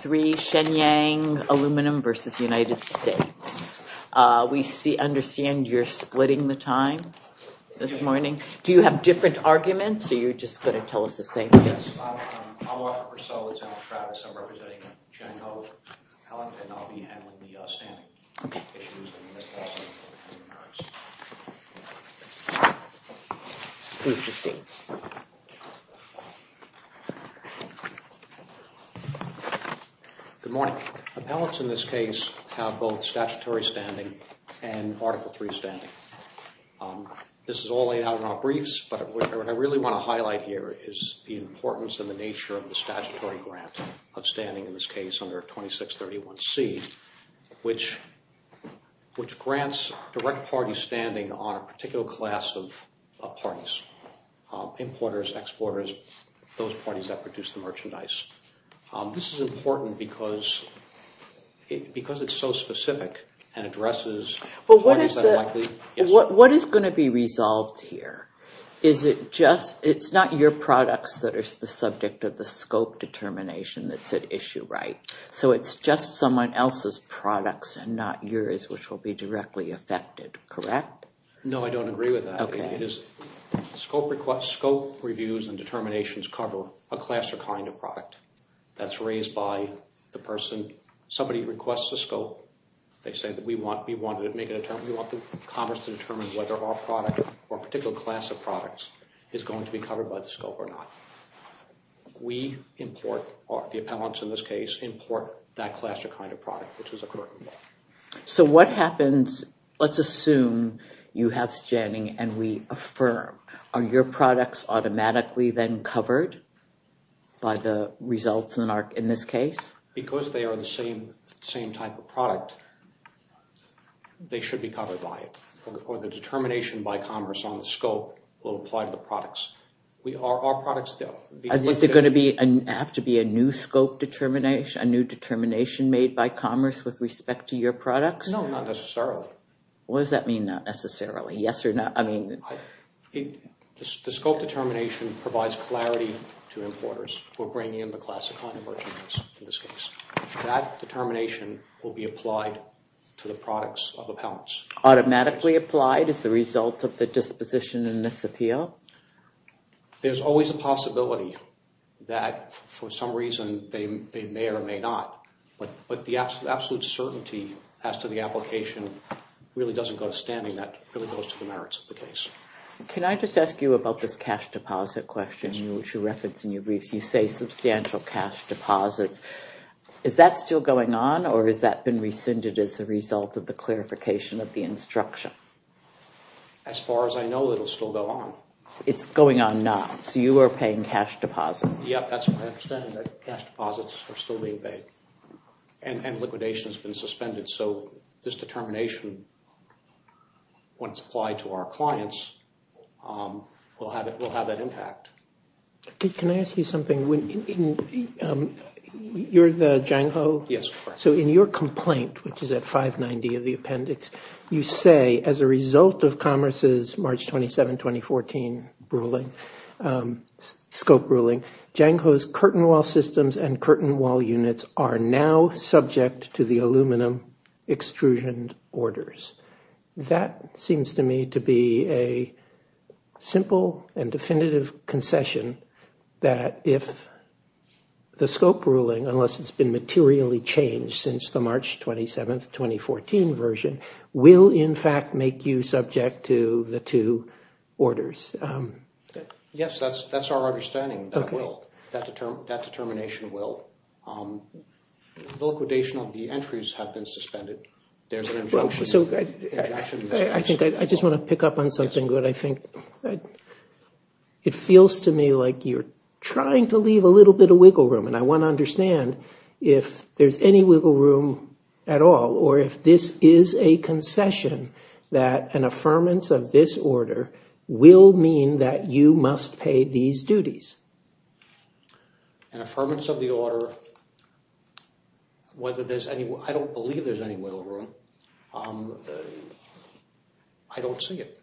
3 Shenyang Aluminum v. United States. We understand you're splitting the time this morning. Do you have different arguments or are you just going to tell us the same thing? Yes, I'm Walter Purcell, it's Alan Travis. I'm representing Chen Go, an appellant, and I'll be handling the standing issues. Good morning. Appellants in this case have both statutory standing and Article 3 standing. This is all laid out in our briefs, but what I really want to highlight here is the importance and the nature of the statutory grant of standing in this case under 2631C, which grants direct party standing on a particular class of parties. Importers, exporters, those parties that produce the merchandise. This is important because it's so specific and addresses parties that are likely... What is going to be resolved here? Is it just, it's not your products that are the subject of the scope determination that's at issue, right? So it's just someone else's products and not yours, which will be directly affected, correct? No, I don't agree with that. Scope reviews and determinations cover a class or kind of product that's raised by the person. Somebody requests a scope, they say that we want commerce to determine whether our product or a particular class of products is going to be covered by the scope or not. We import, or the appellants in this case, import that class or kind of product, which is a current law. So what happens, let's assume you have standing and we affirm. Are your products automatically then covered by the results in this case? Because they are the same type of product, they should be covered by it, or the determination by commerce on the scope will apply to the products. Is there going to have to be a new determination made by commerce with respect to your products? No, not necessarily. What does that mean, not necessarily? Yes or no? The scope determination provides clarity to importers who are bringing in the class or kind of merchandise in this case. That determination will be applied to the products of appellants. Automatically applied as a result of the disposition in this appeal? There's always a possibility that for some reason they may or may not, but the absolute certainty as to the application really doesn't go to standing, that really goes to the merits of the case. Can I just ask you about this cash deposit question, which you reference in your briefs, you say substantial cash deposits. Is that still going on or has that been rescinded as a result of the clarification of the instruction? As far as I know, it will still go on. It's going on now, so you are paying cash deposits? Yes, that's my understanding, that cash deposits are still being paid. And liquidation has been suspended, so this determination, when it's applied to our clients, will have that impact. Can I ask you something? You're the Jango? Yes. So in your complaint, which is at 590 of the appendix, you say as a result of Commerce's March 27, 2014 scope ruling, Jango's curtain wall systems and curtain wall units are now subject to the aluminum extrusion orders. That seems to me to be a simple and definitive concession that if the scope ruling, unless it's been materially changed since the March 27, 2014 version, will in fact make you subject to the two orders. Yes, that's our understanding, that determination will. The liquidation of the entries have been suspended. I just want to pick up on something. It feels to me like you're trying to leave a little bit of wiggle room, and I want to understand if there's any wiggle room at all, or if this is a concession that an affirmance of this order will mean that you must pay these duties. An affirmance of the order, I don't believe there's any wiggle room. I don't see it.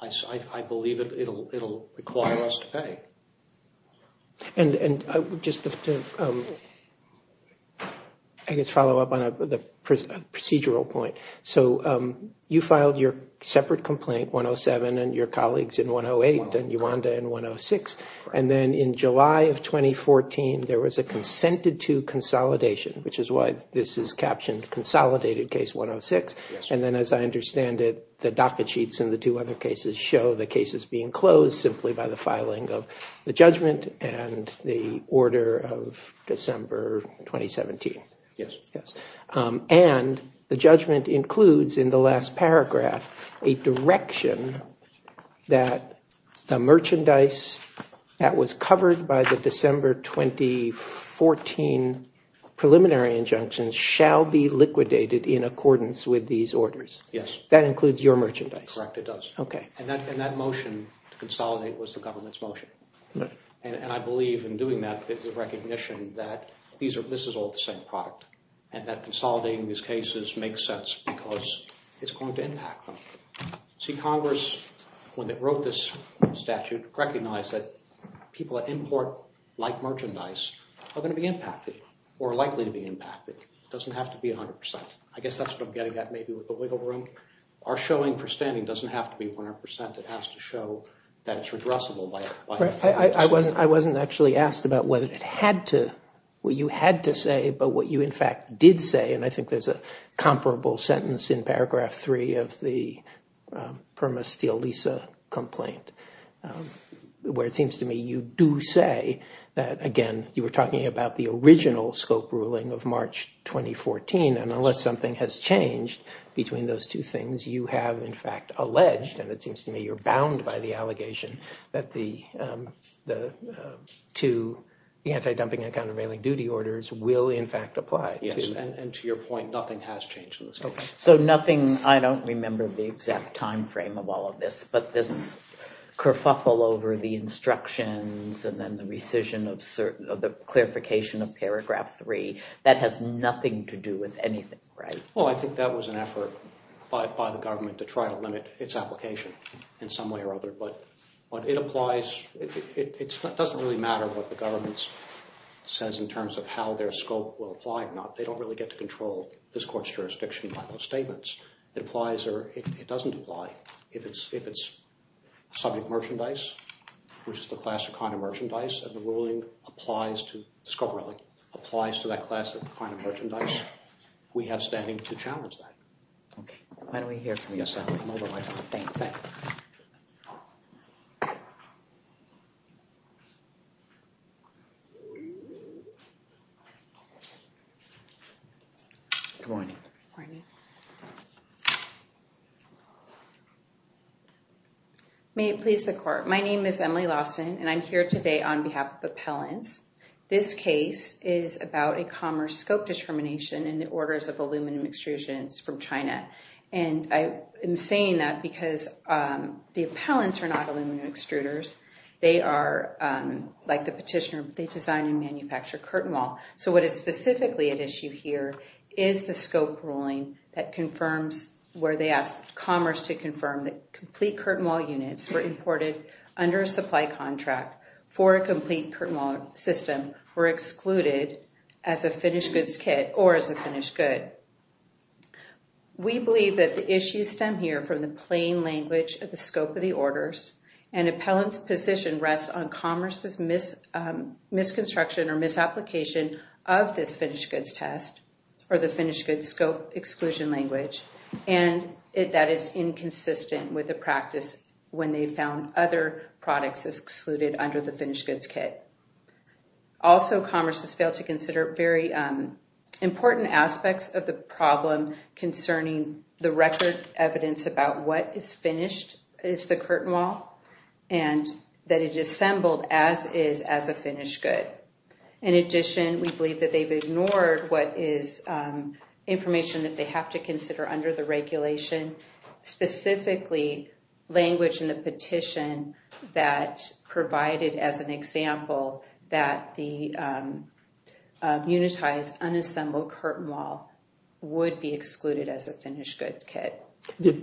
I believe it will require us to pay. And just to follow up on a procedural point, so you filed your separate complaint, 107, and your colleagues in 108 and Uwanda in 106, and then in July of 2014 there was a consented to consolidation, which is why this is captioned Consolidated Case 106. And then as I understand it, the docket sheets in the two other cases show the cases being closed simply by the filing of the judgment and the order of December 2017. And the judgment includes in the last paragraph a direction that the merchandise that was covered by the December 2014 preliminary injunctions shall be liquidated in accordance with these orders. That includes your merchandise? Correct, it does. And that motion to consolidate was the government's motion. And I believe in doing that there's a recognition that this is all the same product, and that consolidating these cases makes sense because it's going to impact them. See, Congress, when they wrote this statute, recognized that people that import like merchandise are going to be impacted or likely to be impacted. It doesn't have to be 100%. I guess that's what I'm getting at maybe with the wiggle room. Our showing for standing doesn't have to be 100%. It has to show that it's redressable by 100%. I wasn't actually asked about whether it had to, what you had to say, but what you in fact did say, and I think there's a comparable sentence in paragraph three of the Perma Steel Lisa complaint, where it seems to me you do say that, again, you were talking about the original scope ruling of March 2014. And unless something has changed between those two things, you have in fact alleged, and it seems to me you're bound by the allegation, that the two, the anti-dumping and countervailing duty orders will in fact apply. Yes, and to your point, nothing has changed in this case. So nothing, I don't remember the exact time frame of all of this, but this kerfuffle over the instructions and then the rescission of certain, the clarification of paragraph three, that has nothing to do with anything, right? Well, I think that was an effort by the government to try to limit its application in some way or other, but it applies, it doesn't really matter what the government says in terms of how their scope will apply or not. They don't really get to control this court's jurisdiction by those statements. It applies or it doesn't apply. If it's subject merchandise, which is the class of kind of merchandise, and the ruling applies to, scope ruling, applies to that class of kind of merchandise, we have standing to challenge that. Okay, why don't we hear from you. I'm over my time. Thank you. Good morning. Morning. May it please the court. My name is Emily Lawson, and I'm here today on behalf of appellants. This case is about a commerce scope determination in the orders of aluminum extrusions from China. And I am saying that because the appellants are not aluminum extruders. They are, like the petitioner, they design and manufacture curtain wall. So what is specifically at issue here is the scope ruling that confirms where they asked commerce to confirm that complete curtain wall units were imported under a supply contract for a complete curtain wall system were excluded as a finished goods kit or as a finished good. We believe that the issues stem here from the plain language of the scope of the orders and appellant's position rests on commerce's misconstruction or misapplication of this finished goods test or the finished goods scope exclusion language. And that is inconsistent with the practice when they found other products excluded under the finished goods kit. Also, commerce has failed to consider very important aspects of the problem concerning the record evidence about what is finished is the curtain wall and that it assembled as is as a finished good. In addition, we believe that they've ignored what is information that they have to consider under the regulation, specifically language in the petition that provided as an example that the unitized unassembled curtain wall would be excluded as a finished goods kit.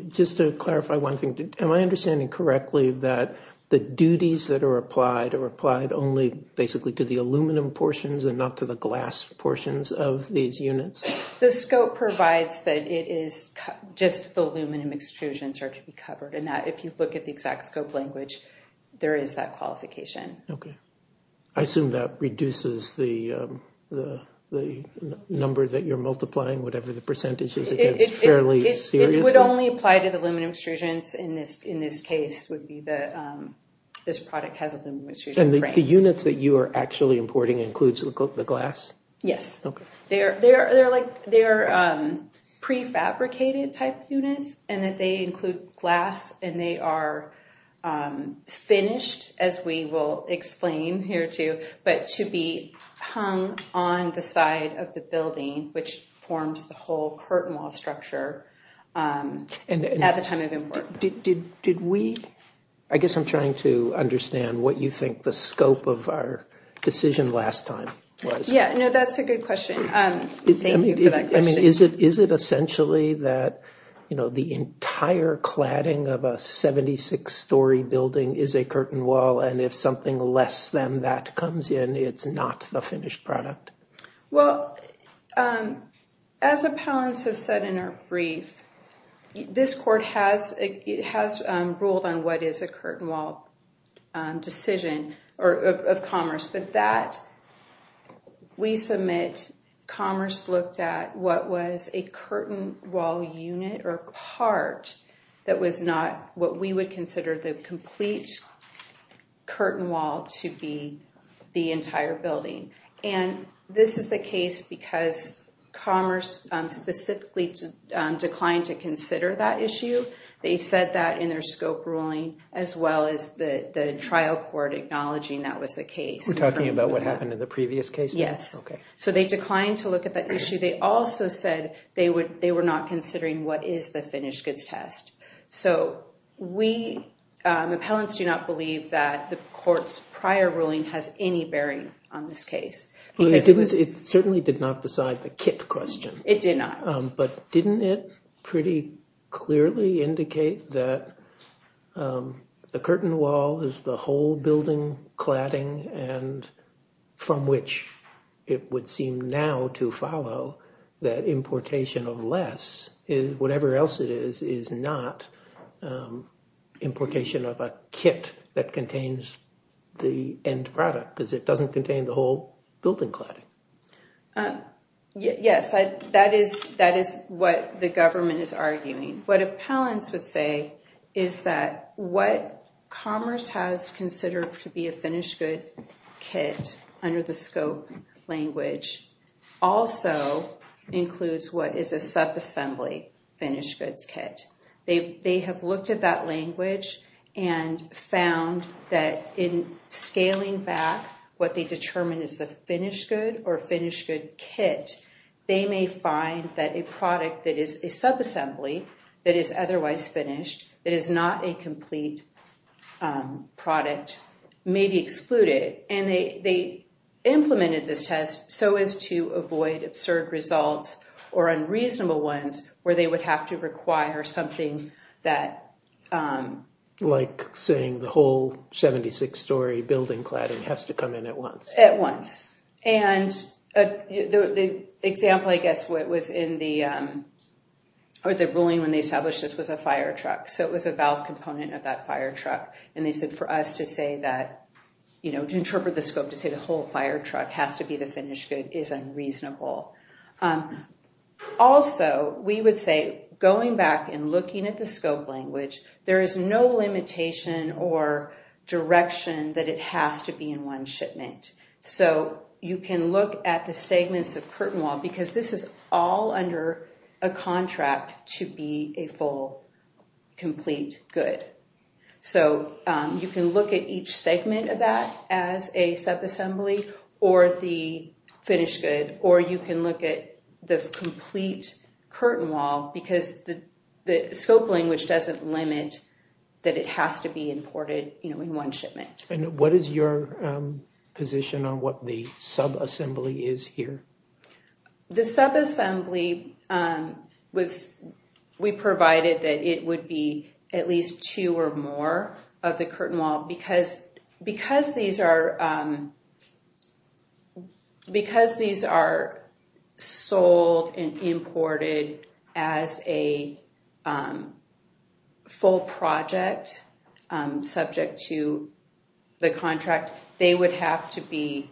Just to clarify one thing, am I understanding correctly that the duties that are applied are applied only basically to the aluminum portions and not to the glass portions of these units? The scope provides that it is just the aluminum extrusions are to be covered and that if you look at the exact scope language, there is that qualification. I assume that reduces the number that you're multiplying, whatever the percentage is, fairly seriously? It would only apply to the aluminum extrusions in this case would be that this product has aluminum extrusion frames. And the units that you are actually importing includes the glass? Yes, they're prefabricated type units and that they include glass and they are finished as we will explain here too, but to be hung on the side of the building, which forms the whole curtain wall structure at the time of import. I guess I'm trying to understand what you think the scope of our decision last time was. That's a good question. Is it essentially that the entire cladding of a 76-story building is a curtain wall and if something less than that comes in, it's not the finished product? Well, as appellants have said in our brief, this court has ruled on what is a curtain wall decision of Commerce, but that we submit Commerce looked at what was a curtain wall unit or part that was not what we would consider the complete curtain wall to be the entire building. And this is the case because Commerce specifically declined to consider that issue. They said that in their scope ruling as well as the trial court acknowledging that was the case. We're talking about what happened in the previous case? Yes. Okay. So they declined to look at that issue. They also said they were not considering what is the finished goods test. So we, appellants, do not believe that the court's prior ruling has any bearing on this case. It certainly did not decide the kit question. It did not. But didn't it pretty clearly indicate that the curtain wall is the whole building cladding and from which it would seem now to follow that importation of less is whatever else it is, is not importation of a kit that contains the end product because it doesn't contain the whole building cladding. Yes, that is what the government is arguing. What appellants would say is that what Commerce has considered to be a finished good kit under the scope language also includes what is a subassembly finished goods kit. They have looked at that language and found that in scaling back what they determine is the finished good or finished good kit, they may find that a product that is a subassembly that is otherwise finished, that is not a complete product, may be excluded. And they implemented this test so as to avoid absurd results or unreasonable ones where they would have to require something that... Like saying the whole 76-story building cladding has to come in at once. At once. And the example I guess was in the... Or the ruling when they established this was a fire truck. So it was a valve component of that fire truck. And they said for us to interpret the scope to say the whole fire truck has to be the finished good is unreasonable. Also, we would say going back and looking at the scope language, there is no limitation or direction that it has to be in one shipment. So you can look at the segments of curtain wall because this is all under a contract to be a full complete good. So you can look at each segment of that as a subassembly or the finished good or you can look at the complete curtain wall because the scope language doesn't limit that it has to be imported in one shipment. And what is your position on what the subassembly is here? The subassembly was... They would have to be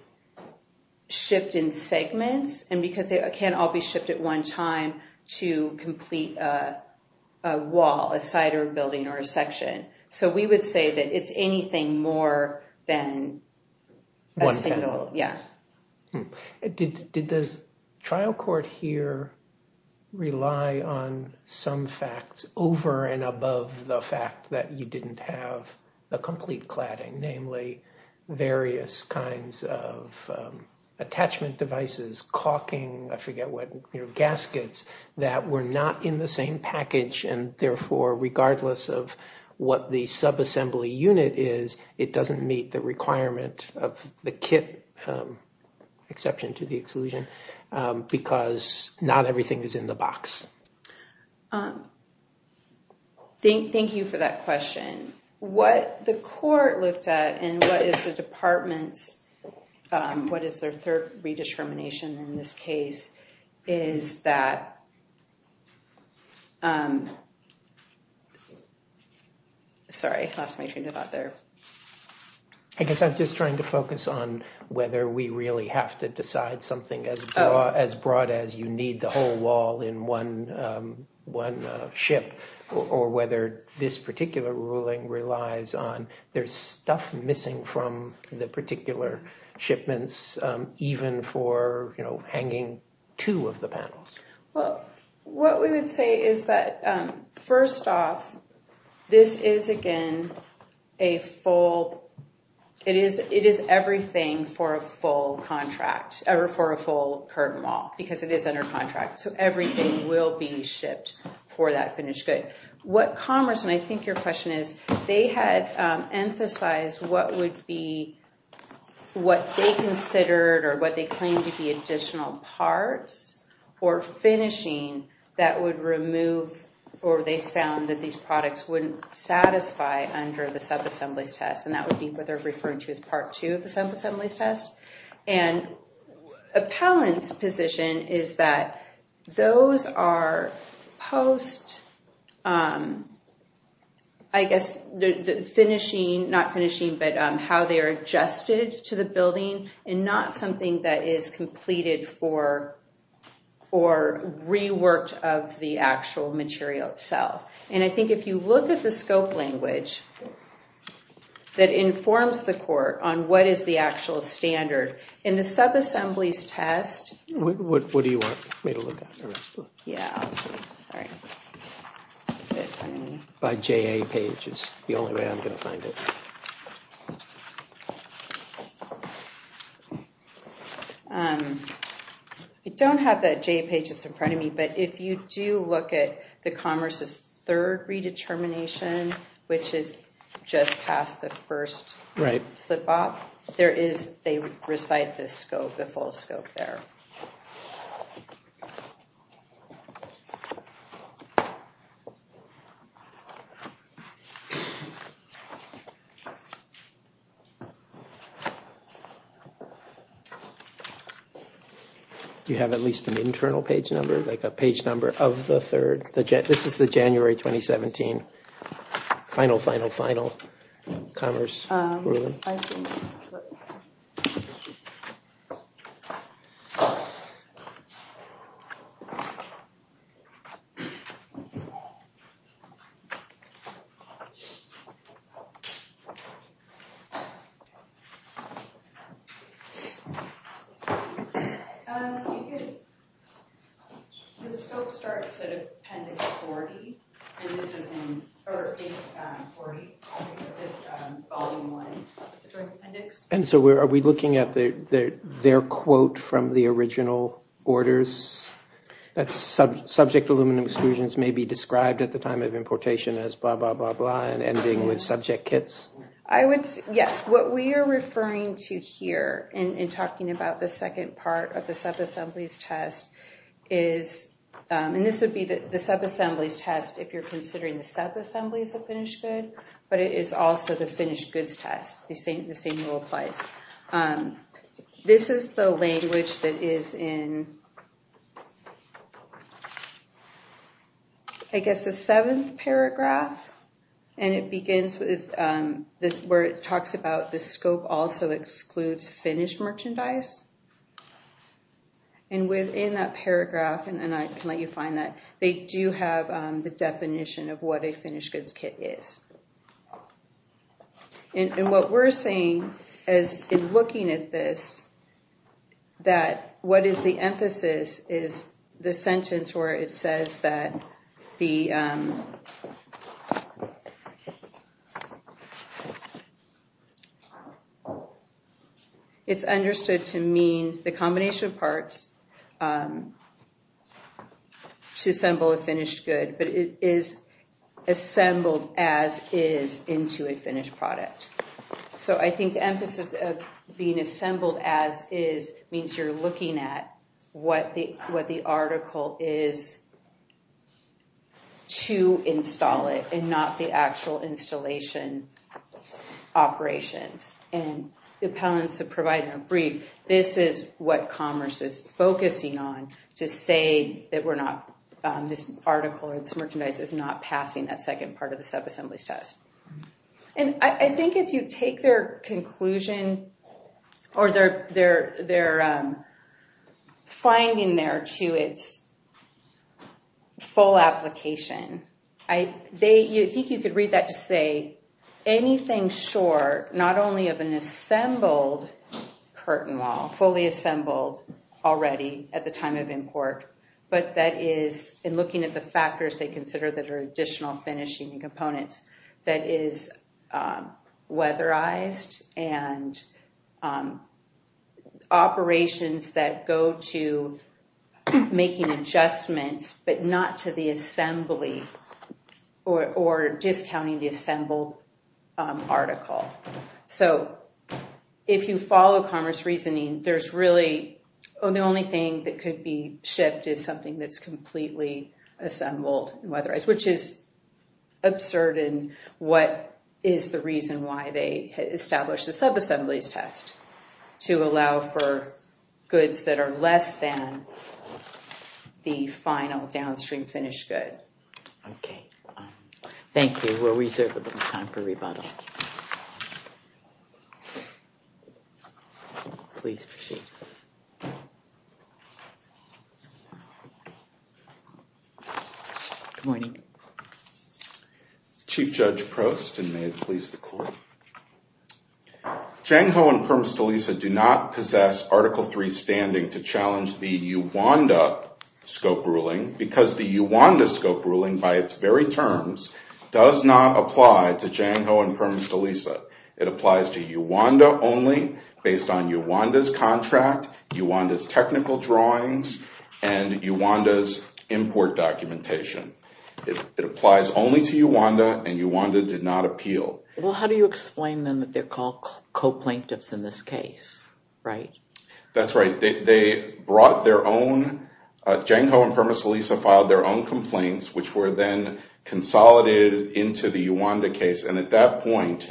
shipped in segments and because they can't all be shipped at one time to complete a wall, a side or a building or a section. So we would say that it's anything more than a single... One panel. Yeah. Did the trial court here rely on some facts over and above the fact that you didn't have a complete cladding? Namely, various kinds of attachment devices, caulking, I forget what, gaskets that were not in the same package. And therefore, regardless of what the subassembly unit is, it doesn't meet the requirement of the kit exception to the exclusion because not everything is in the box. Thank you for that question. What the court looked at and what is the department's... What is their third redetermination in this case is that... Sorry, lost my train of thought there. I guess I'm just trying to focus on whether we really have to decide something as broad as you need the whole wall in one ship or whether this particular ruling relies on... There's stuff missing from the particular shipments, even for hanging two of the panels. Well, what we would say is that, first off, this is, again, a full... It is everything for a full curtain wall because it is under contract. So everything will be shipped for that finished good. What Commerce, and I think your question is, they had emphasized what would be what they considered or what they claimed to be additional parts or finishing that would remove... Or they found that these products wouldn't satisfy under the subassemblies test, and that would be what they're referring to as part two of the subassemblies test. Appellant's position is that those are post, I guess, the finishing... Not finishing, but how they are adjusted to the building and not something that is completed for or reworked of the actual material itself. And I think if you look at the scope language that informs the court on what is the actual standard in the subassemblies test... What do you want me to look at? Yeah, I'll see. By JA page is the only way I'm going to find it. I don't have that JA page that's in front of me, but if you do look at the Commerce's third redetermination, which is just past the first slip-off, there is... The full scope there. You have at least an internal page number, like a page number of the third. This is the January 2017, final, final, final Commerce ruling. And so are we looking at their quote from the original orders? That subject aluminum exclusions may be described at the time of importation as blah, blah, blah, blah, and ending with subject kits? Yes, what we are referring to here in talking about the second part of the subassemblies test is... And this would be the subassemblies test if you're considering the subassemblies of finished good, but it is also the finished goods test. The same rule applies. This is the language that is in, I guess, the seventh paragraph. And it begins with where it talks about the scope also excludes finished merchandise. And within that paragraph, and I can let you find that, they do have the definition of what a finished goods kit is. And what we're saying is in looking at this, that what is the emphasis is the sentence where it says that the... That is into a finished product. So I think the emphasis of being assembled as is means you're looking at what the article is to install it and not the actual installation operations. And the appellants have provided a brief. This is what commerce is focusing on to say that we're not... This article or this merchandise is not passing that second part of the subassemblies test. And I think if you take their conclusion or their finding there to its full application, I think you could read that to say anything short, not only of an assembled curtain wall, fully assembled already at the time of import, but that is in looking at the factors they consider that are additional finishing components, that is weatherized and operations that go to making adjustments, but not to the assembly or discounting the assembled article. So if you follow commerce reasoning, there's really... Anything that could be shipped is something that's completely assembled and weatherized, which is absurd in what is the reason why they established the subassemblies test, to allow for goods that are less than the final downstream finished good. Okay. Thank you. We're reserved a little time for rebuttal. Please proceed. Good morning. Chief Judge Prost, and may it please the court. Jang Ho and Perma-Stilisa do not possess Article III standing to challenge the Uwanda scope ruling, because the Uwanda scope ruling by its very terms does not apply to Jang Ho and Perma-Stilisa. It applies to Uwanda only, based on Uwanda's contract, Uwanda's technical drawings, and Uwanda's import documentation. It applies only to Uwanda, and Uwanda did not appeal. Well, how do you explain then that they're called co-plaintiffs in this case, right? That's right. They brought their own... Jang Ho and Perma-Stilisa filed their own complaints, which were then consolidated into the Uwanda case. And at that point,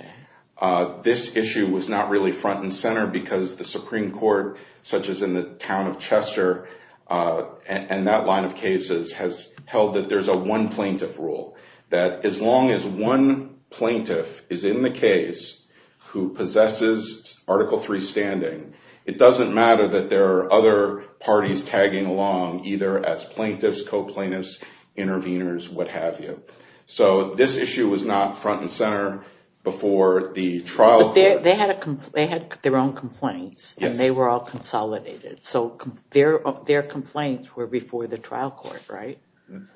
this issue was not really front and center, because the Supreme Court, such as in the town of Chester, and that line of cases, has held that there's a one plaintiff rule. That as long as one plaintiff is in the case who possesses Article III standing, it doesn't matter that there are other parties tagging along, either as plaintiffs, co-plaintiffs, interveners, what have you. So this issue was not front and center before the trial court... But they had their own complaints, and they were all consolidated. So their complaints were before the trial court, right?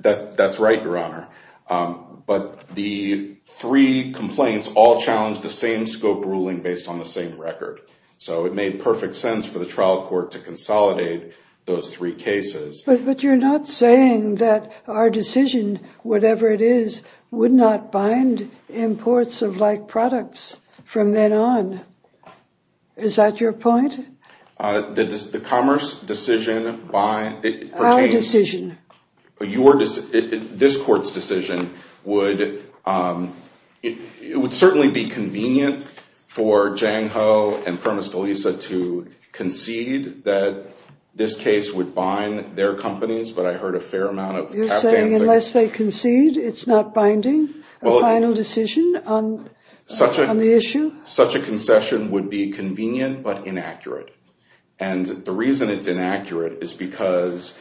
That's right, Your Honor. But the three complaints all challenged the same scope ruling based on the same record. So it made perfect sense for the trial court to consolidate those three cases. But you're not saying that our decision, whatever it is, would not bind imports of like products from then on. Is that your point? The commerce decision by... This court's decision would certainly be convenient for Jang Ho and Primus Delisa to concede that this case would bind their companies, but I heard a fair amount of tap dancing. You're saying unless they concede, it's not binding, a final decision on the issue? Such a concession would be convenient but inaccurate. And the reason it's inaccurate is because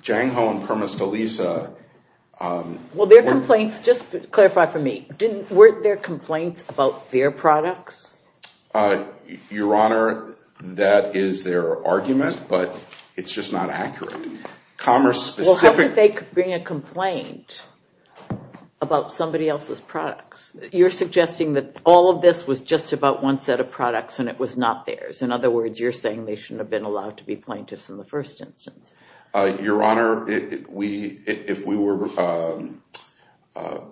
Jang Ho and Primus Delisa... Well, their complaints, just clarify for me, weren't there complaints about their products? Your Honor, that is their argument, but it's just not accurate. Commerce specific... Well, how could they bring a complaint about somebody else's products? You're suggesting that all of this was just about one set of products and it was not theirs. In other words, you're saying they shouldn't have been allowed to be plaintiffs in the first instance. Your Honor, if we were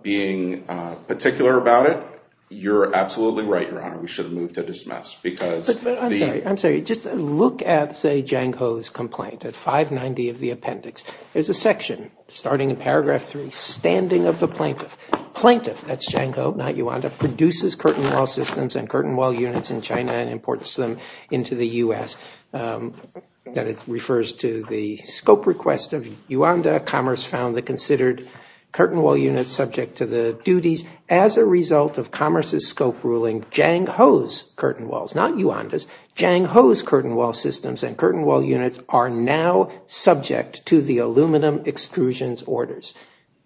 being particular about it, you're absolutely right, Your Honor. We should have moved to dismiss because... I'm sorry. Just look at, say, Jang Ho's complaint at 590 of the appendix. There's a section starting in paragraph three, standing of the plaintiff. Plaintiff, that's Jang Ho, not Yuanda, produces curtain wall systems and curtain wall units in China and imports them into the U.S. That refers to the scope request of Yuanda. Commerce found the considered curtain wall units subject to the duties. As a result of Commerce's scope ruling, Jang Ho's curtain walls, not Yuanda's, Jang Ho's curtain wall systems and curtain wall units are now subject to the aluminum extrusions orders.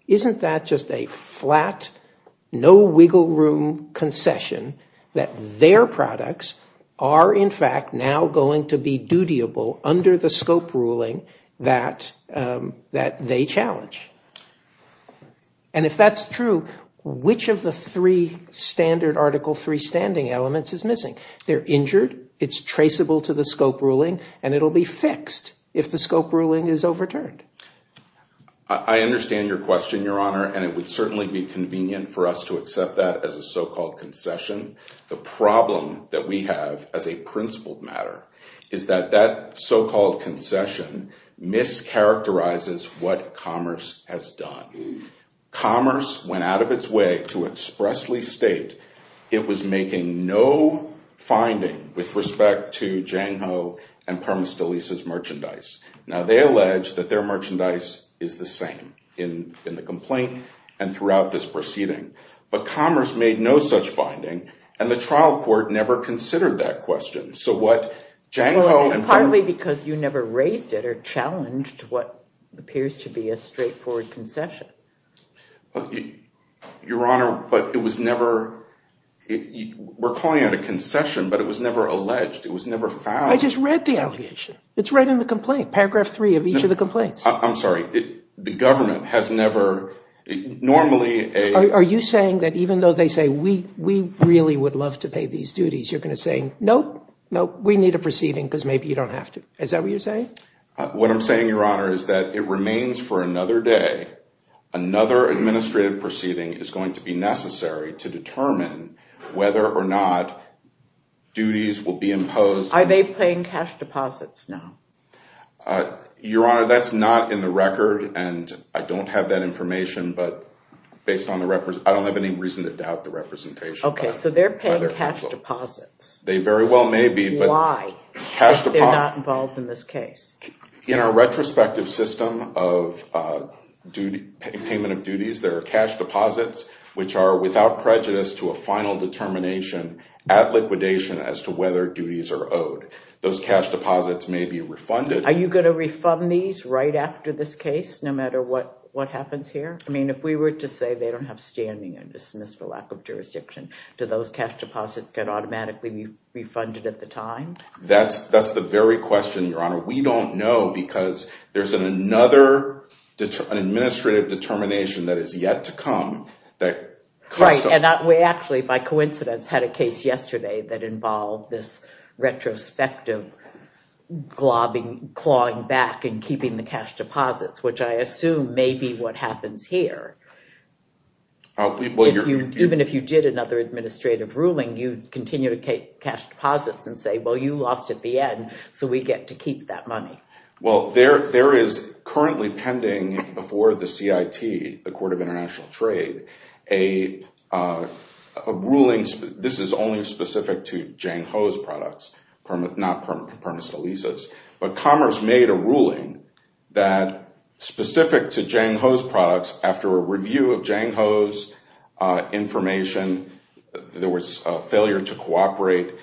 Isn't that just a flat, no wiggle room concession that their products are, in fact, now going to be dutiable under the scope ruling that they challenge? And if that's true, which of the three standard Article III standing elements is missing? They're injured, it's traceable to the scope ruling, and it'll be fixed if the scope ruling is overturned. I understand your question, Your Honor, and it would certainly be convenient for us to accept that as a so-called concession. The problem that we have as a principled matter is that that so-called concession mischaracterizes what Commerce has done. Commerce went out of its way to expressly state it was making no finding with respect to Jang Ho and Parmas de Lisa's merchandise. Now, they allege that their merchandise is the same in the complaint and throughout this proceeding. But Commerce made no such finding, and the trial court never considered that question. So what Jang Ho and Parmas… Partly because you never raised it or challenged what appears to be a straightforward concession. Your Honor, but it was never – we're calling it a concession, but it was never alleged. It was never found. I just read the allegation. It's right in the complaint, paragraph three of each of the complaints. I'm sorry. The government has never normally… Are you saying that even though they say, we really would love to pay these duties, you're going to say, nope, nope, we need a proceeding because maybe you don't have to? Is that what you're saying? What I'm saying, Your Honor, is that it remains for another day. Another administrative proceeding is going to be necessary to determine whether or not duties will be imposed. Are they paying cash deposits now? Your Honor, that's not in the record, and I don't have that information, but based on the – I don't have any reason to doubt the representation. Okay, so they're paying cash deposits. They very well may be, but… Why? They're not involved in this case. In our retrospective system of payment of duties, there are cash deposits which are without prejudice to a final determination at liquidation as to whether duties are owed. Those cash deposits may be refunded. Are you going to refund these right after this case, no matter what happens here? I mean, if we were to say they don't have standing and dismiss for lack of jurisdiction, do those cash deposits get automatically refunded at the time? That's the very question, Your Honor. We don't know because there's another administrative determination that is yet to come. Right, and we actually, by coincidence, had a case yesterday that involved this retrospective clawing back and keeping the cash deposits, which I assume may be what happens here. Even if you did another administrative ruling, you'd continue to take cash deposits and say, well, you lost at the end, so we get to keep that money. Well, there is currently pending before the CIT, the Court of International Trade, a ruling. This is only specific to Jang Ho's products, not permissible leases. But Commerce made a ruling that, specific to Jang Ho's products, after a review of Jang Ho's information, there was a failure to cooperate.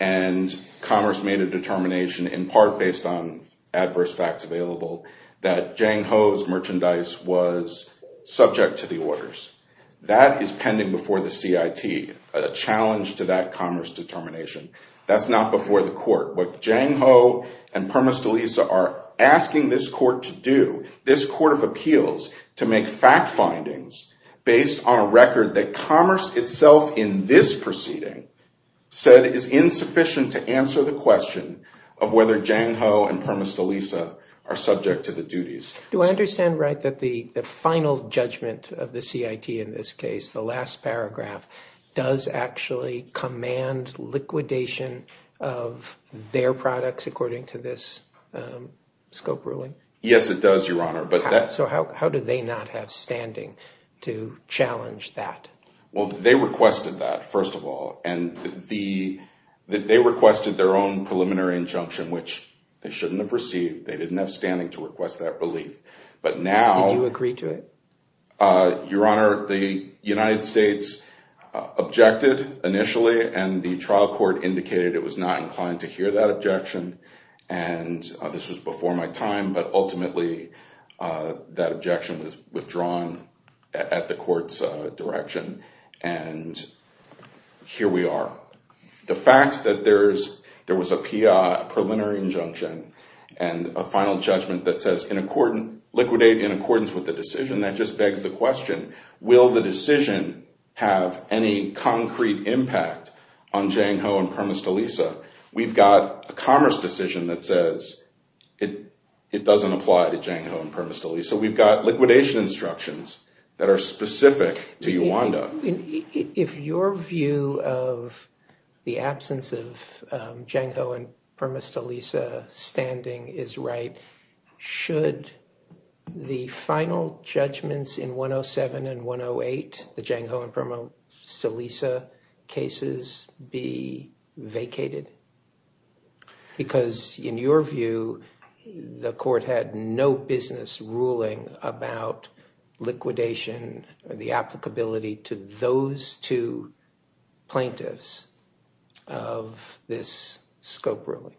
And Commerce made a determination, in part based on adverse facts available, that Jang Ho's merchandise was subject to the orders. That is pending before the CIT, a challenge to that Commerce determination. That's not before the court. What Jang Ho and Permus DeLisa are asking this court to do, this court of appeals, to make fact findings based on a record that Commerce itself in this proceeding said is insufficient to answer the question of whether Jang Ho and Permus DeLisa are subject to the duties. Do I understand right that the final judgment of the CIT in this case, the last paragraph, does actually command liquidation of their products according to this scope ruling? Yes, it does, Your Honor. So how do they not have standing to challenge that? Well, they requested that, first of all. And they requested their own preliminary injunction, which they shouldn't have received. They didn't have standing to request that relief. But now— Did you agree to it? Your Honor, the United States objected initially, and the trial court indicated it was not inclined to hear that objection. And this was before my time, but ultimately that objection was withdrawn at the court's direction. And here we are. The fact that there was a preliminary injunction and a final judgment that says liquidate in accordance with the decision, that just begs the question, will the decision have any concrete impact on Jang Ho and Permus DeLisa? We've got a commerce decision that says it doesn't apply to Jang Ho and Permus DeLisa. We've got liquidation instructions that are specific to Uwanda. If your view of the absence of Jang Ho and Permus DeLisa standing is right, should the final judgments in 107 and 108, the Jang Ho and Permus DeLisa cases, be vacated? Because in your view, the court had no business ruling about liquidation or the applicability to those two plaintiffs of this scope ruling.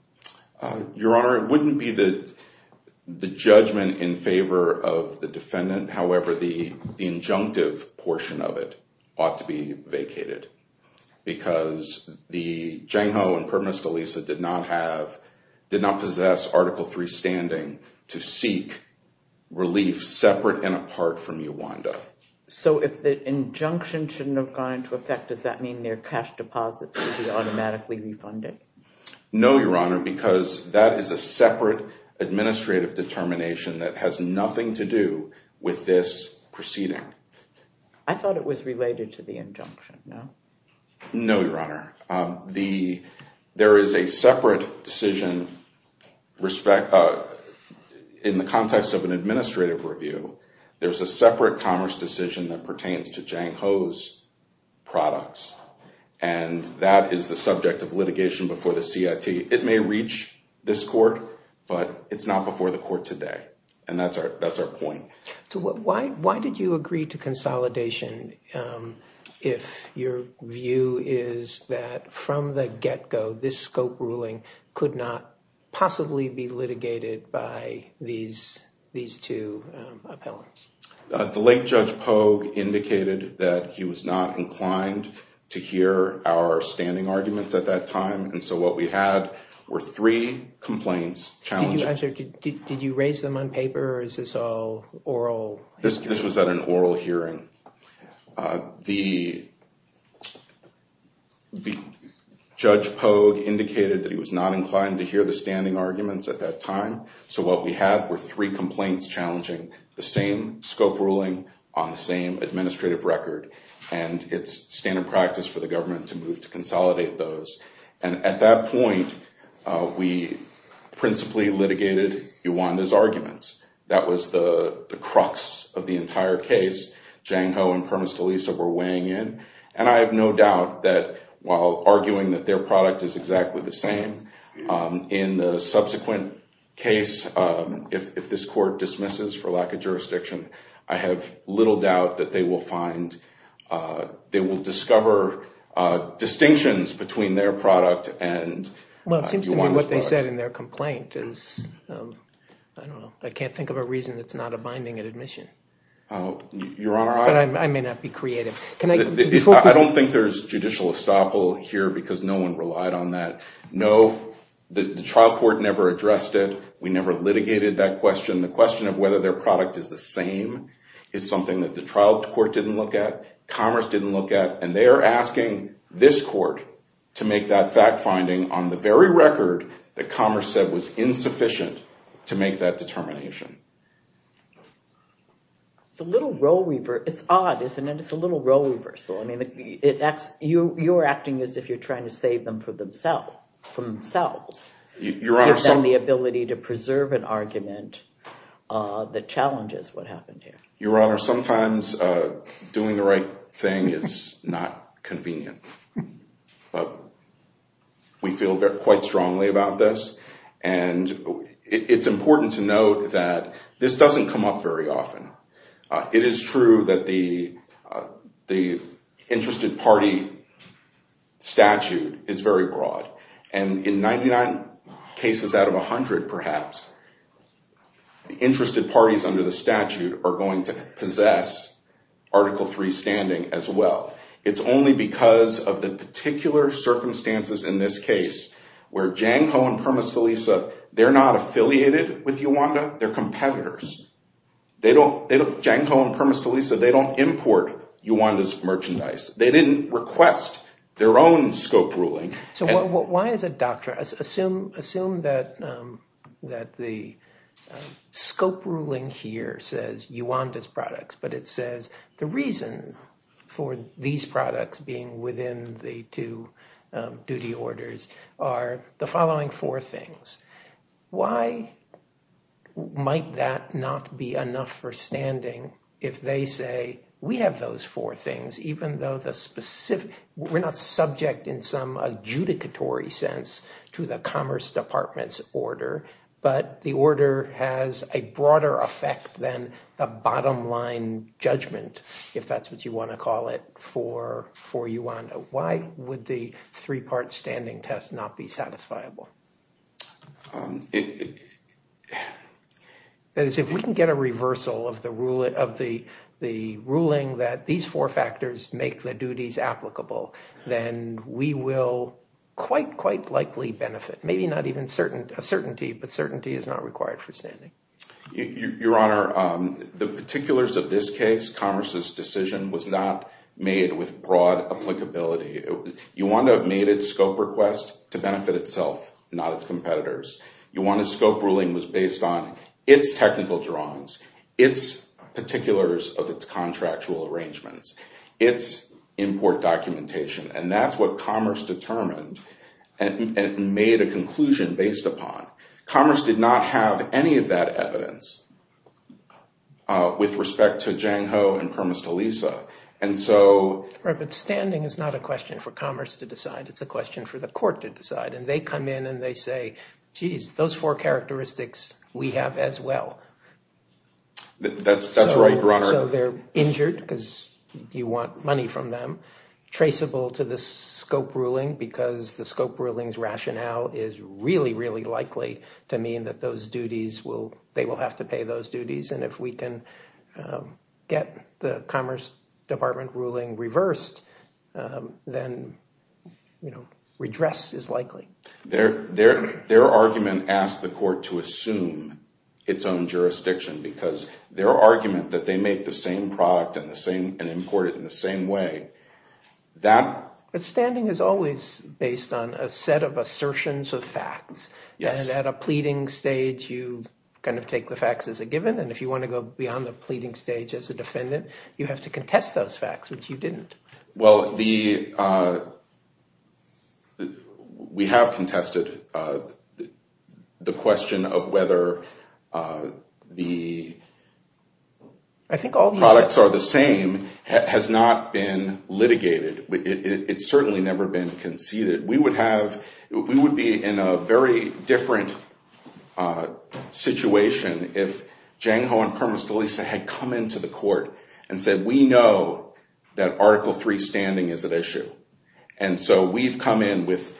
Your Honor, it wouldn't be the judgment in favor of the defendant. However, the injunctive portion of it ought to be vacated because the Jang Ho and Permus DeLisa did not possess Article III standing to seek relief separate and apart from Uwanda. So if the injunction shouldn't have gone into effect, does that mean their cash deposits would be automatically refunded? No, Your Honor, because that is a separate administrative determination that has nothing to do with this proceeding. I thought it was related to the injunction, no? No, Your Honor. There is a separate decision in the context of an administrative review. There's a separate commerce decision that pertains to Jang Ho's products, and that is the subject of litigation before the CIT. It may reach this court, but it's not before the court today, and that's our point. Why did you agree to consolidation if your view is that from the get-go this scope ruling could not possibly be litigated by these two appellants? The late Judge Pogue indicated that he was not inclined to hear our standing arguments at that time, and so what we had were three complaints challenging. Did you raise them on paper, or is this all oral? This was at an oral hearing. The Judge Pogue indicated that he was not inclined to hear the standing arguments at that time, so what we had were three complaints challenging the same scope ruling on the same administrative record, and it's standard practice for the government to move to consolidate those. At that point, we principally litigated Uwanda's arguments. That was the crux of the entire case. Jang Ho and Pernas-DeLisa were weighing in, and I have no doubt that while arguing that their product is exactly the same, in the subsequent case, if this court dismisses for lack of jurisdiction, I have little doubt that they will discover distinctions between their product and Uwanda's product. Well, it seems to me what they said in their complaint is, I don't know, I can't think of a reason that's not a binding admission. Your Honor, I— But I may not be creative. I don't think there's judicial estoppel here because no one relied on that. No, the trial court never addressed it. We never litigated that question. The question of whether their product is the same is something that the trial court didn't look at, commerce didn't look at, and they are asking this court to make that fact-finding on the very record that commerce said was insufficient to make that determination. It's a little role—it's odd, isn't it? It's a little role reversal. I mean, you're acting as if you're trying to save them for themselves. Your Honor— And the ability to preserve an argument that challenges what happened here. Your Honor, sometimes doing the right thing is not convenient. But we feel quite strongly about this. And it's important to note that this doesn't come up very often. It is true that the interested party statute is very broad. And in 99 cases out of 100, perhaps, the interested parties under the statute are going to possess Article III standing as well. It's only because of the particular circumstances in this case where Jang Ho and Permis de Lisa, they're not affiliated with Uwanda. They're competitors. They don't—Jang Ho and Permis de Lisa, they don't import Uwanda's merchandise. They didn't request their own scope ruling. So why is it—assume that the scope ruling here says Uwanda's products, but it says the reason for these products being within the two duty orders are the following four things. Why might that not be enough for standing if they say, we have those four things, even though the specific—we're not subject in some adjudicatory sense to the Commerce Department's order. But the order has a broader effect than the bottom line judgment, if that's what you want to call it, for Uwanda. Why would the three-part standing test not be satisfiable? That is, if we can get a reversal of the ruling that these four factors make the duties applicable, then we will quite, quite likely benefit. Maybe not even a certainty, but certainty is not required for standing. Your Honor, the particulars of this case, Commerce's decision, was not made with broad applicability. Uwanda made its scope request to benefit itself, not its competitors. Uwanda's scope ruling was based on its technical drawings, its particulars of its contractual arrangements, its import documentation. And that's what Commerce determined and made a conclusion based upon. Commerce did not have any of that evidence with respect to Jang Ho and Kermis Talisa. And so— Right, but standing is not a question for Commerce to decide. It's a question for the court to decide. And they come in and they say, geez, those four characteristics, we have as well. That's right, Your Honor. So they're injured because you want money from them. Traceable to the scope ruling because the scope ruling's rationale is really, really likely to mean that those duties will—they will have to pay those duties. And if we can get the Commerce Department ruling reversed, then redress is likely. Their argument asked the court to assume its own jurisdiction because their argument that they make the same product and import it in the same way, that— But standing is always based on a set of assertions of facts. Yes. And at a pleading stage, you kind of take the facts as a given. And if you want to go beyond the pleading stage as a defendant, you have to contest those facts, which you didn't. Well, the—we have contested the question of whether the products are the same has not been litigated. It's certainly never been conceded. We would have—we would be in a very different situation if Jang Ho and Permos de Lisa had come into the court and said, we know that Article III standing is at issue. And so we've come in with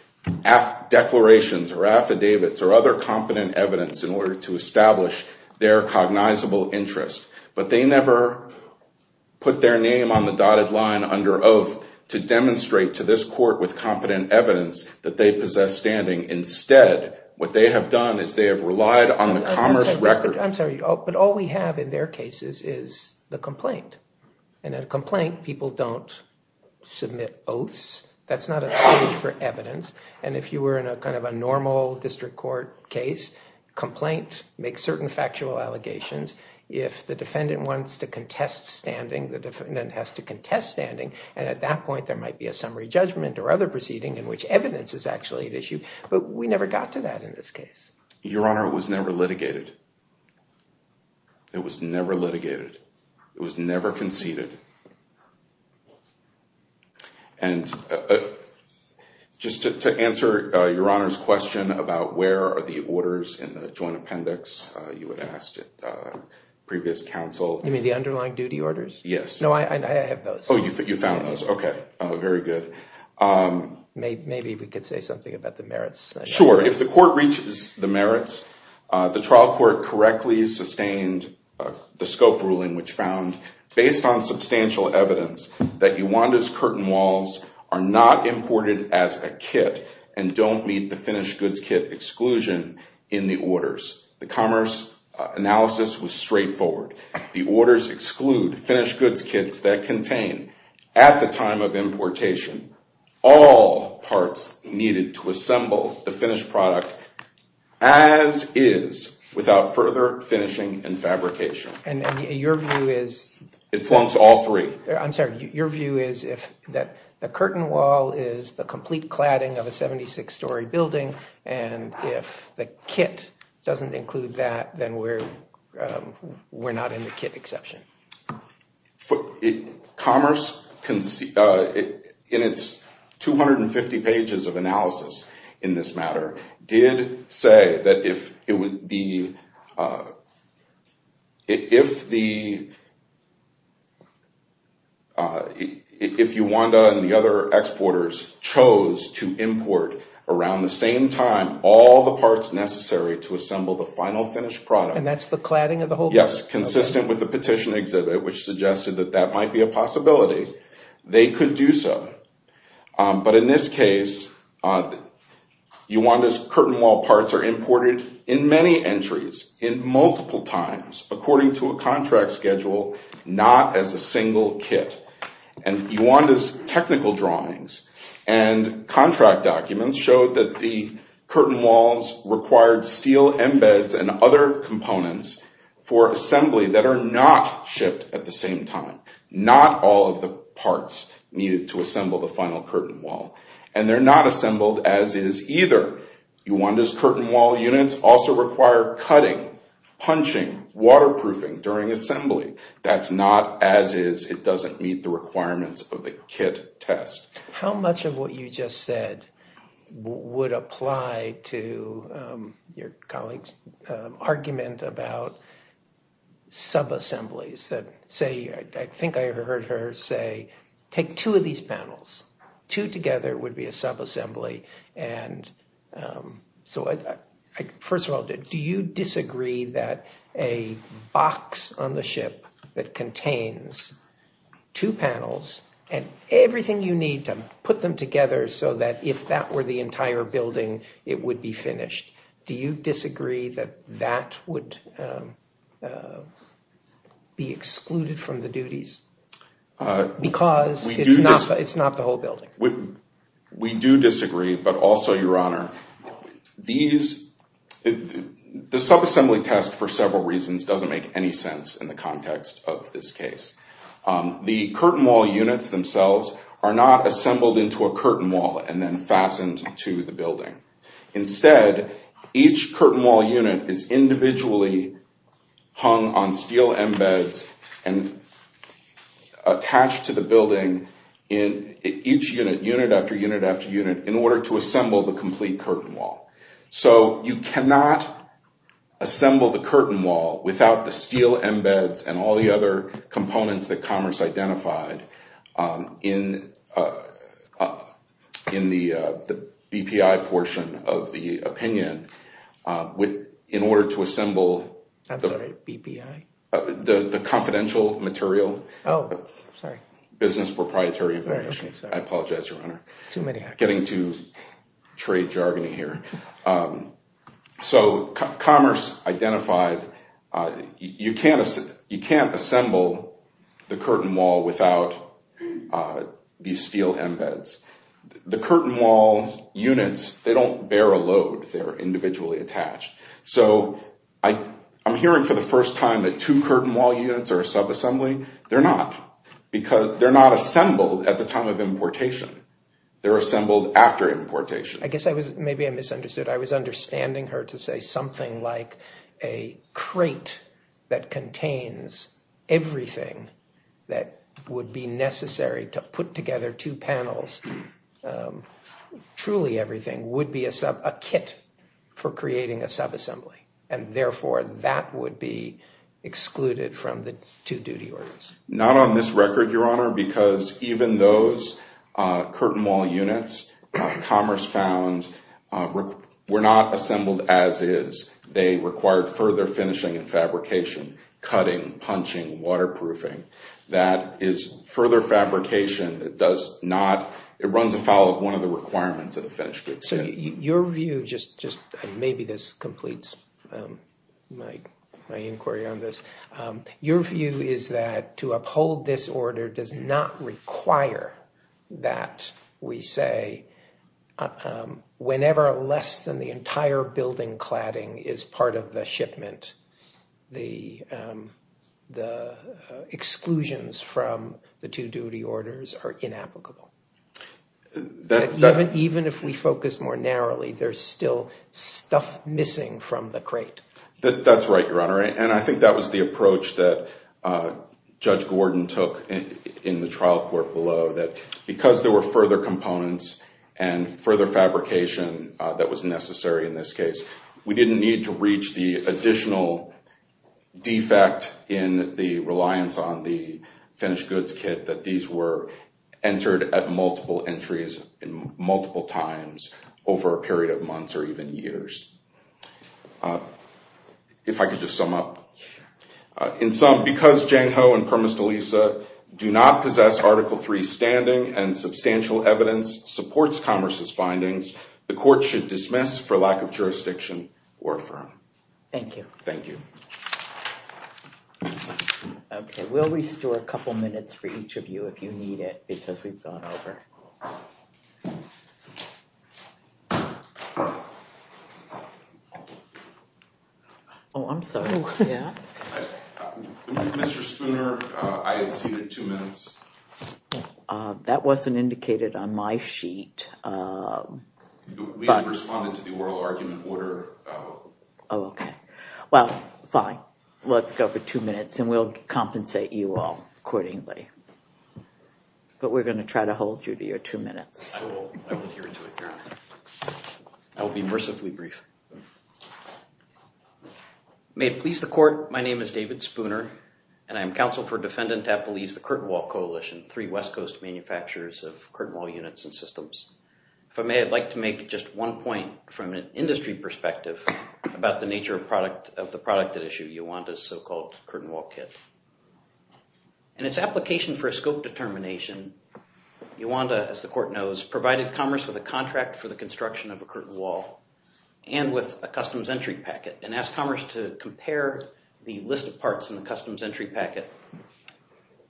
declarations or affidavits or other competent evidence in order to establish their cognizable interest. But they never put their name on the dotted line under oath to demonstrate to this court with competent evidence that they possess standing. Instead, what they have done is they have relied on the commerce record— I'm sorry. But all we have in their cases is the complaint. And in a complaint, people don't submit oaths. That's not a stage for evidence. And if you were in a kind of a normal district court case, complaint makes certain factual allegations. If the defendant wants to contest standing, the defendant has to contest standing. And at that point, there might be a summary judgment or other proceeding in which evidence is actually at issue. But we never got to that in this case. Your Honor, it was never litigated. It was never litigated. It was never conceded. And just to answer Your Honor's question about where are the orders in the joint appendix, you had asked at previous counsel. You mean the underlying duty orders? Yes. No, I have those. Oh, you found those. Okay. Very good. Maybe we could say something about the merits. Sure. If the court reaches the merits, the trial court correctly sustained the scope ruling which found, based on substantial evidence, that Uwanda's curtain walls are not imported as a kit and don't meet the finished goods kit exclusion in the orders. The commerce analysis was straightforward. The orders exclude finished goods kits that contain, at the time of importation, all parts needed to assemble the finished product as is without further finishing and fabrication. And your view is? It flunks all three. I'm sorry. Your view is that the curtain wall is the complete cladding of a 76-story building, and if the kit doesn't include that, then we're not in the kit exception. Commerce, in its 250 pages of analysis in this matter, did say that if Uwanda and the other exporters chose to import, around the same time, all the parts necessary to assemble the final finished product. And that's the cladding of the whole building? Yes, consistent with the petition exhibit, which suggested that that might be a possibility. They could do so. But in this case, Uwanda's curtain wall parts are imported in many entries, in multiple times, according to a contract schedule, not as a single kit. And Uwanda's technical drawings and contract documents showed that the curtain walls required steel embeds and other components for assembly that are not shipped at the same time. Not all of the parts needed to assemble the final curtain wall. And they're not assembled as is either. Uwanda's curtain wall units also require cutting, punching, waterproofing during assembly. That's not as is. It doesn't meet the requirements of the kit test. How much of what you just said would apply to your colleague's argument about sub-assemblies? Say, I think I heard her say, take two of these panels. Two together would be a sub-assembly. And so, first of all, do you disagree that a box on the ship that contains two panels and everything you need to put them together so that if that were the entire building, it would be finished, do you disagree that that would be excluded from the duties? Because it's not the whole building. We do disagree, but also, Your Honor, the sub-assembly test, for several reasons, doesn't make any sense in the context of this case. The curtain wall units themselves are not assembled into a curtain wall and then fastened to the building. Instead, each curtain wall unit is individually hung on steel embeds and attached to the building in each unit, unit after unit after unit, in order to assemble the complete curtain wall. So you cannot assemble the curtain wall without the steel embeds and all the other components that Commerce identified in the BPI portion of the opinion in order to assemble the confidential material. Oh, sorry. Business proprietary information. I apologize, Your Honor. Too many. Getting to trade jargony here. So Commerce identified you can't assemble the curtain wall without these steel embeds. The curtain wall units, they don't bear a load. They're individually attached. So I'm hearing for the first time that two curtain wall units are a sub-assembly. They're not because they're not assembled at the time of importation. They're assembled after importation. I guess maybe I misunderstood. I was understanding her to say something like a crate that contains everything that would be necessary to put together two panels, truly everything, would be a kit for creating a sub-assembly, and therefore that would be excluded from the two duty orders. Not on this record, Your Honor, because even those curtain wall units Commerce found were not assembled as is. They required further finishing and fabrication, cutting, punching, waterproofing. That is further fabrication. It does not – it runs afoul of one of the requirements of the finished goods. So your view, just maybe this completes my inquiry on this. Your view is that to uphold this order does not require that we say whenever less than the entire building cladding is part of the shipment, the exclusions from the two duty orders are inapplicable. Even if we focus more narrowly, there's still stuff missing from the crate. That's right, Your Honor, and I think that was the approach that Judge Gordon took in the trial court below, that because there were further components and further fabrication that was necessary in this case, we didn't need to reach the additional defect in the reliance on the finished goods kit that these were entered at multiple entries and multiple times over a period of months or even years. If I could just sum up. In sum, because Jang Ho and Permis de Lisa do not possess Article III standing and substantial evidence, supports Commerce's findings, the court should dismiss for lack of jurisdiction or affirm. Thank you. Thank you. OK, we'll restore a couple minutes for each of you if you need it, because we've gone over. Oh, I'm sorry. Mr. Spooner, I exceeded two minutes. That wasn't indicated on my sheet. We responded to the oral argument order. Oh, OK. Well, fine. Let's go for two minutes, and we'll compensate you all accordingly. But we're going to try to hold you to your two minutes. I will adhere to it, Your Honor. I will be mercifully brief. May it please the court, my name is David Spooner, and I'm counsel for Defendant Tappalese, the Curtin Wall Coalition, three West Coast manufacturers of curtain wall units and systems. If I may, I'd like to make just one point from an industry perspective about the nature of the product at issue, Iwanda's so-called curtain wall kit. In its application for a scope determination, Iwanda, as the court knows, provided Commerce with a contract for the construction of a curtain wall and with a customs entry packet, and asked Commerce to compare the list of parts in the customs entry packet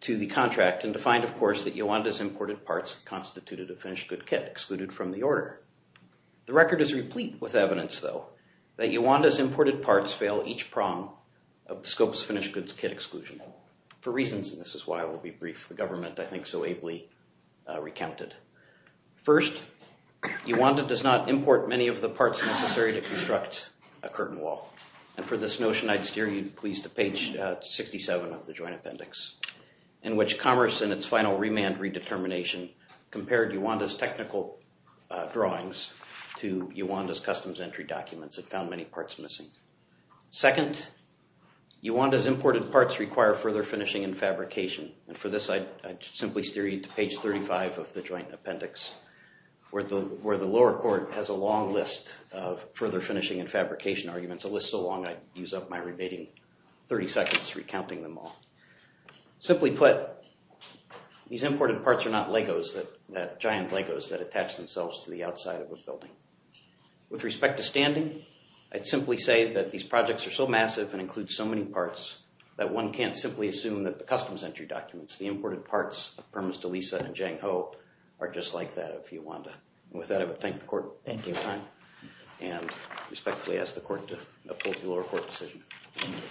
to the contract and defined, of course, that Iwanda's imported parts constituted a finished good kit excluded from the order. The record is replete with evidence, though, that Iwanda's imported parts fail each prong of the scope's finished goods kit exclusion for reasons, and this is why I will be brief, the government, I think, so ably recounted. First, Iwanda does not import many of the parts necessary to construct a curtain wall. And for this notion, I'd steer you, please, to page 67 of the joint appendix in which Commerce, in its final remand redetermination, compared Iwanda's technical drawings to Iwanda's customs entry documents and found many parts missing. Second, Iwanda's imported parts require further finishing and fabrication. And for this, I'd simply steer you to page 35 of the joint appendix where the lower court has a long list of further finishing and fabrication arguments, a list so long I'd use up my remaining 30 seconds recounting them all. Simply put, these imported parts are not LEGOs, giant LEGOs that attach themselves to the outside of a building. With respect to standing, I'd simply say that these projects are so massive and include so many parts that one can't simply assume that the customs entry documents, the imported parts of Permis de Lisa and Jang Ho, are just like that of Iwanda. And with that, I would thank the court. Thank you, Your Honor. And respectfully ask the court to approve the lower court decision. Thank you.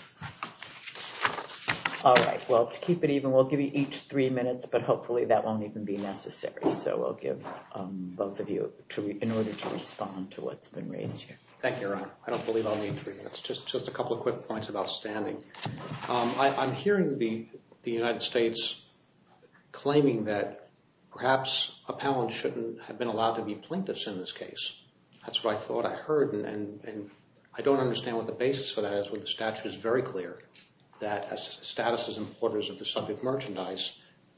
All right. Well, to keep it even, we'll give you each three minutes, but hopefully that won't even be necessary. So we'll give both of you in order to respond to what's been raised here. Thank you, Your Honor. I don't believe I'll need three minutes. Just a couple of quick points about standing. I'm hearing the United States claiming that perhaps appellants shouldn't have been allowed to be plaintiffs in this case. That's what I thought I heard, and I don't understand what the basis for that is. The statute is very clear that statuses and orders of the subject merchandise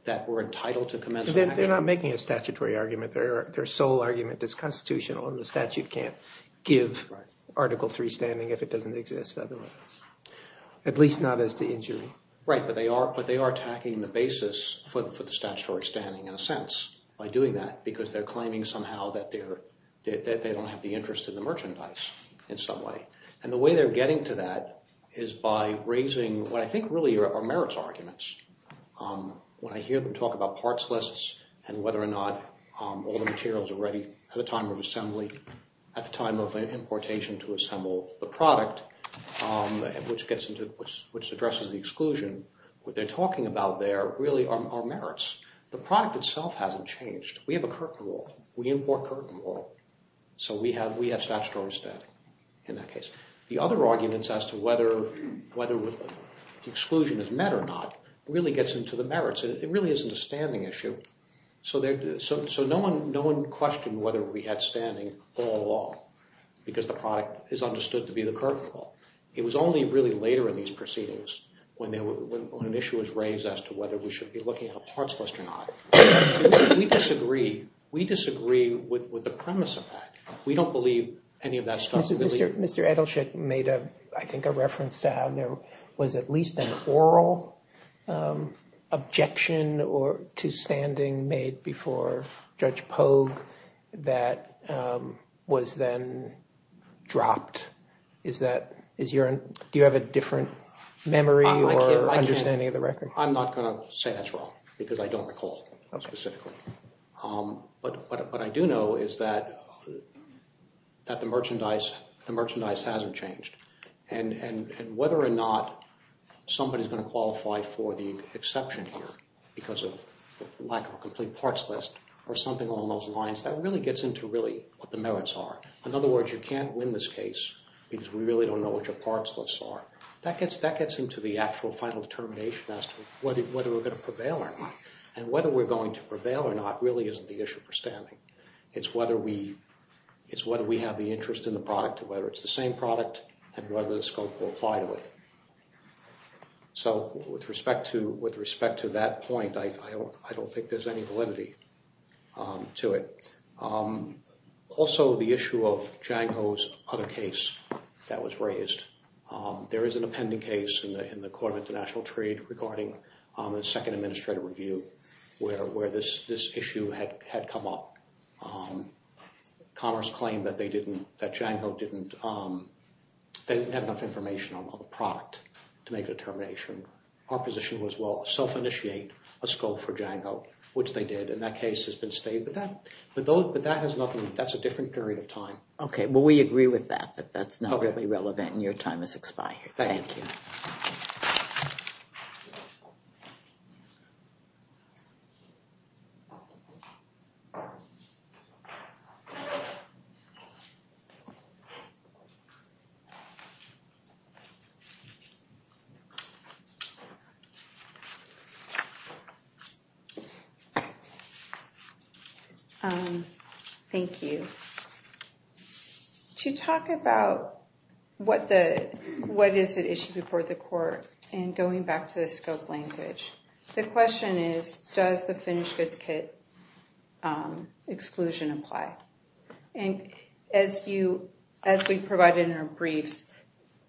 that were entitled to commence an action. They're not making a statutory argument. Their sole argument is constitutional, and the statute can't give Article III standing if it doesn't exist otherwise, at least not as the injury. Right, but they are attacking the basis for the statutory standing in a sense by doing that because they're claiming somehow that they don't have the interest in the merchandise in some way. And the way they're getting to that is by raising what I think really are merits arguments. When I hear them talk about parts lists and whether or not all the materials are ready at the time of assembly, at the time of importation to assemble the product, which addresses the exclusion, what they're talking about there really are merits. The product itself hasn't changed. We have a curtain rule. We import curtain rule. So we have statutory standing in that case. The other arguments as to whether the exclusion is met or not really gets into the merits. It really isn't a standing issue. So no one questioned whether we had standing all along because the product is understood to be the curtain rule. It was only really later in these proceedings when an issue was raised as to whether we should be looking at a parts list or not. We disagree. We disagree with the premise of that. We don't believe any of that stuff. Mr. Edelshick made, I think, a reference to how there was at least an oral objection to standing made before Judge Pogue that was then dropped. Do you have a different memory or understanding of the record? I'm not going to say that's wrong because I don't recall specifically. But what I do know is that the merchandise hasn't changed. And whether or not somebody is going to qualify for the exception here because of lack of a complete parts list or something along those lines, that really gets into really what the merits are. In other words, you can't win this case because we really don't know what your parts lists are. That gets into the actual final determination as to whether we're going to prevail or not. And whether we're going to prevail or not really isn't the issue for standing. It's whether we have the interest in the product, whether it's the same product, and whether the scope will apply to it. So with respect to that point, I don't think there's any validity to it. Also, the issue of Django's other case that was raised. There is an appending case in the Court of International Trade regarding the second administrative review where this issue had come up. Commerce claimed that Django didn't have enough information on the product to make a determination. Our position was, well, self-initiate a scope for Django, which they did. And that case has been stayed. But that's a different period of time. Okay. Well, we agree with that, that that's not really relevant and your time has expired. Thank you. Thank you. To talk about what is at issue before the court and going back to the scope language, the question is, does the finished goods kit exclusion apply? And as we provided in our briefs,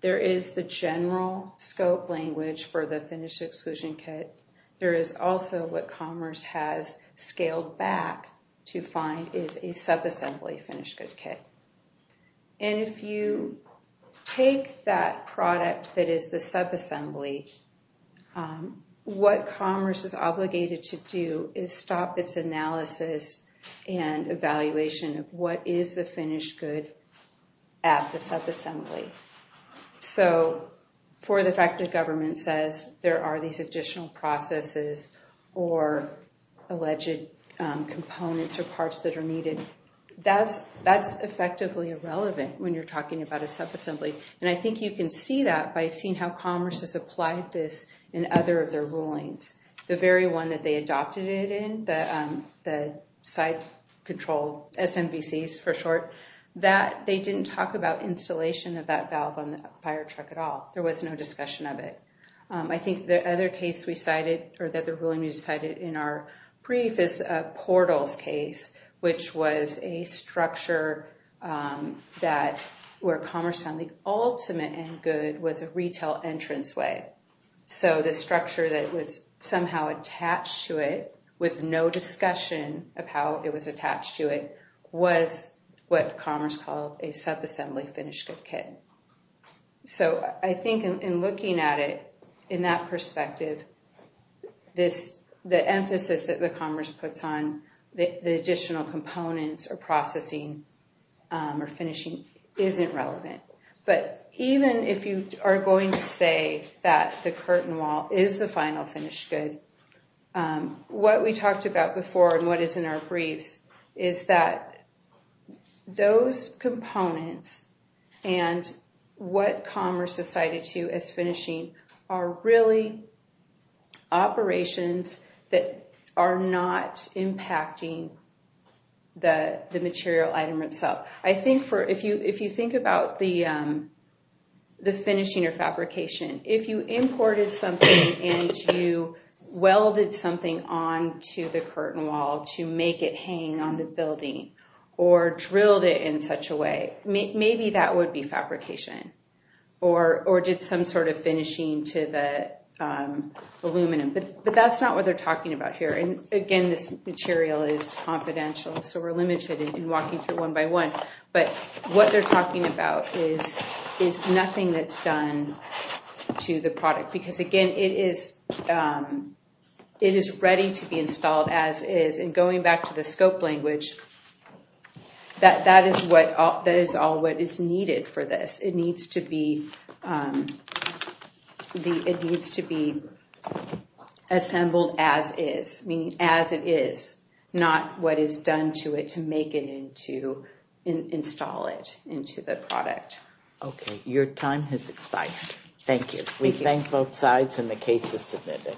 there is the general scope language for the finished exclusion kit. There is also what Commerce has scaled back to find is a subassembly finished goods kit. And if you take that product that is the subassembly, what Commerce is obligated to do is stop its analysis and evaluation of what is the finished good at the subassembly. So for the fact that government says there are these additional processes or alleged components or parts that are needed, that's effectively irrelevant when you're talking about a subassembly. And I think you can see that by seeing how Commerce has applied this in other of their rulings. The very one that they adopted it in, the site control, SMBCs for short, that they didn't talk about installation of that valve on the fire truck at all. There was no discussion of it. I think the other case we cited or that the ruling we cited in our brief is a portals case, which was a structure that where Commerce found the ultimate end good was a retail entranceway. So the structure that was somehow attached to it with no discussion of how it was attached to it was what Commerce called a subassembly finished good kit. So I think in looking at it in that perspective, the emphasis that Commerce puts on the additional components or processing or finishing isn't relevant. But even if you are going to say that the curtain wall is the final finished good, what we talked about before and what is in our briefs is that those components and what Commerce has cited to as finishing are really operations that are not impacting the material item itself. I think if you think about the finishing or fabrication, if you imported something and you welded something onto the curtain wall to make it hang on the building or drilled it in such a way, maybe that would be fabrication or did some sort of finishing to the aluminum. But that's not what they're talking about here. Again, this material is confidential, so we're limited in walking through one by one. But what they're talking about is nothing that's done to the product. Because again, it is ready to be installed as is. And going back to the scope language, that is all that is needed for this. It needs to be assembled as is, meaning as it is, not what is done to it to make it into, install it into the product. Okay, your time has expired. Thank you. We thank both sides and the case is submitted.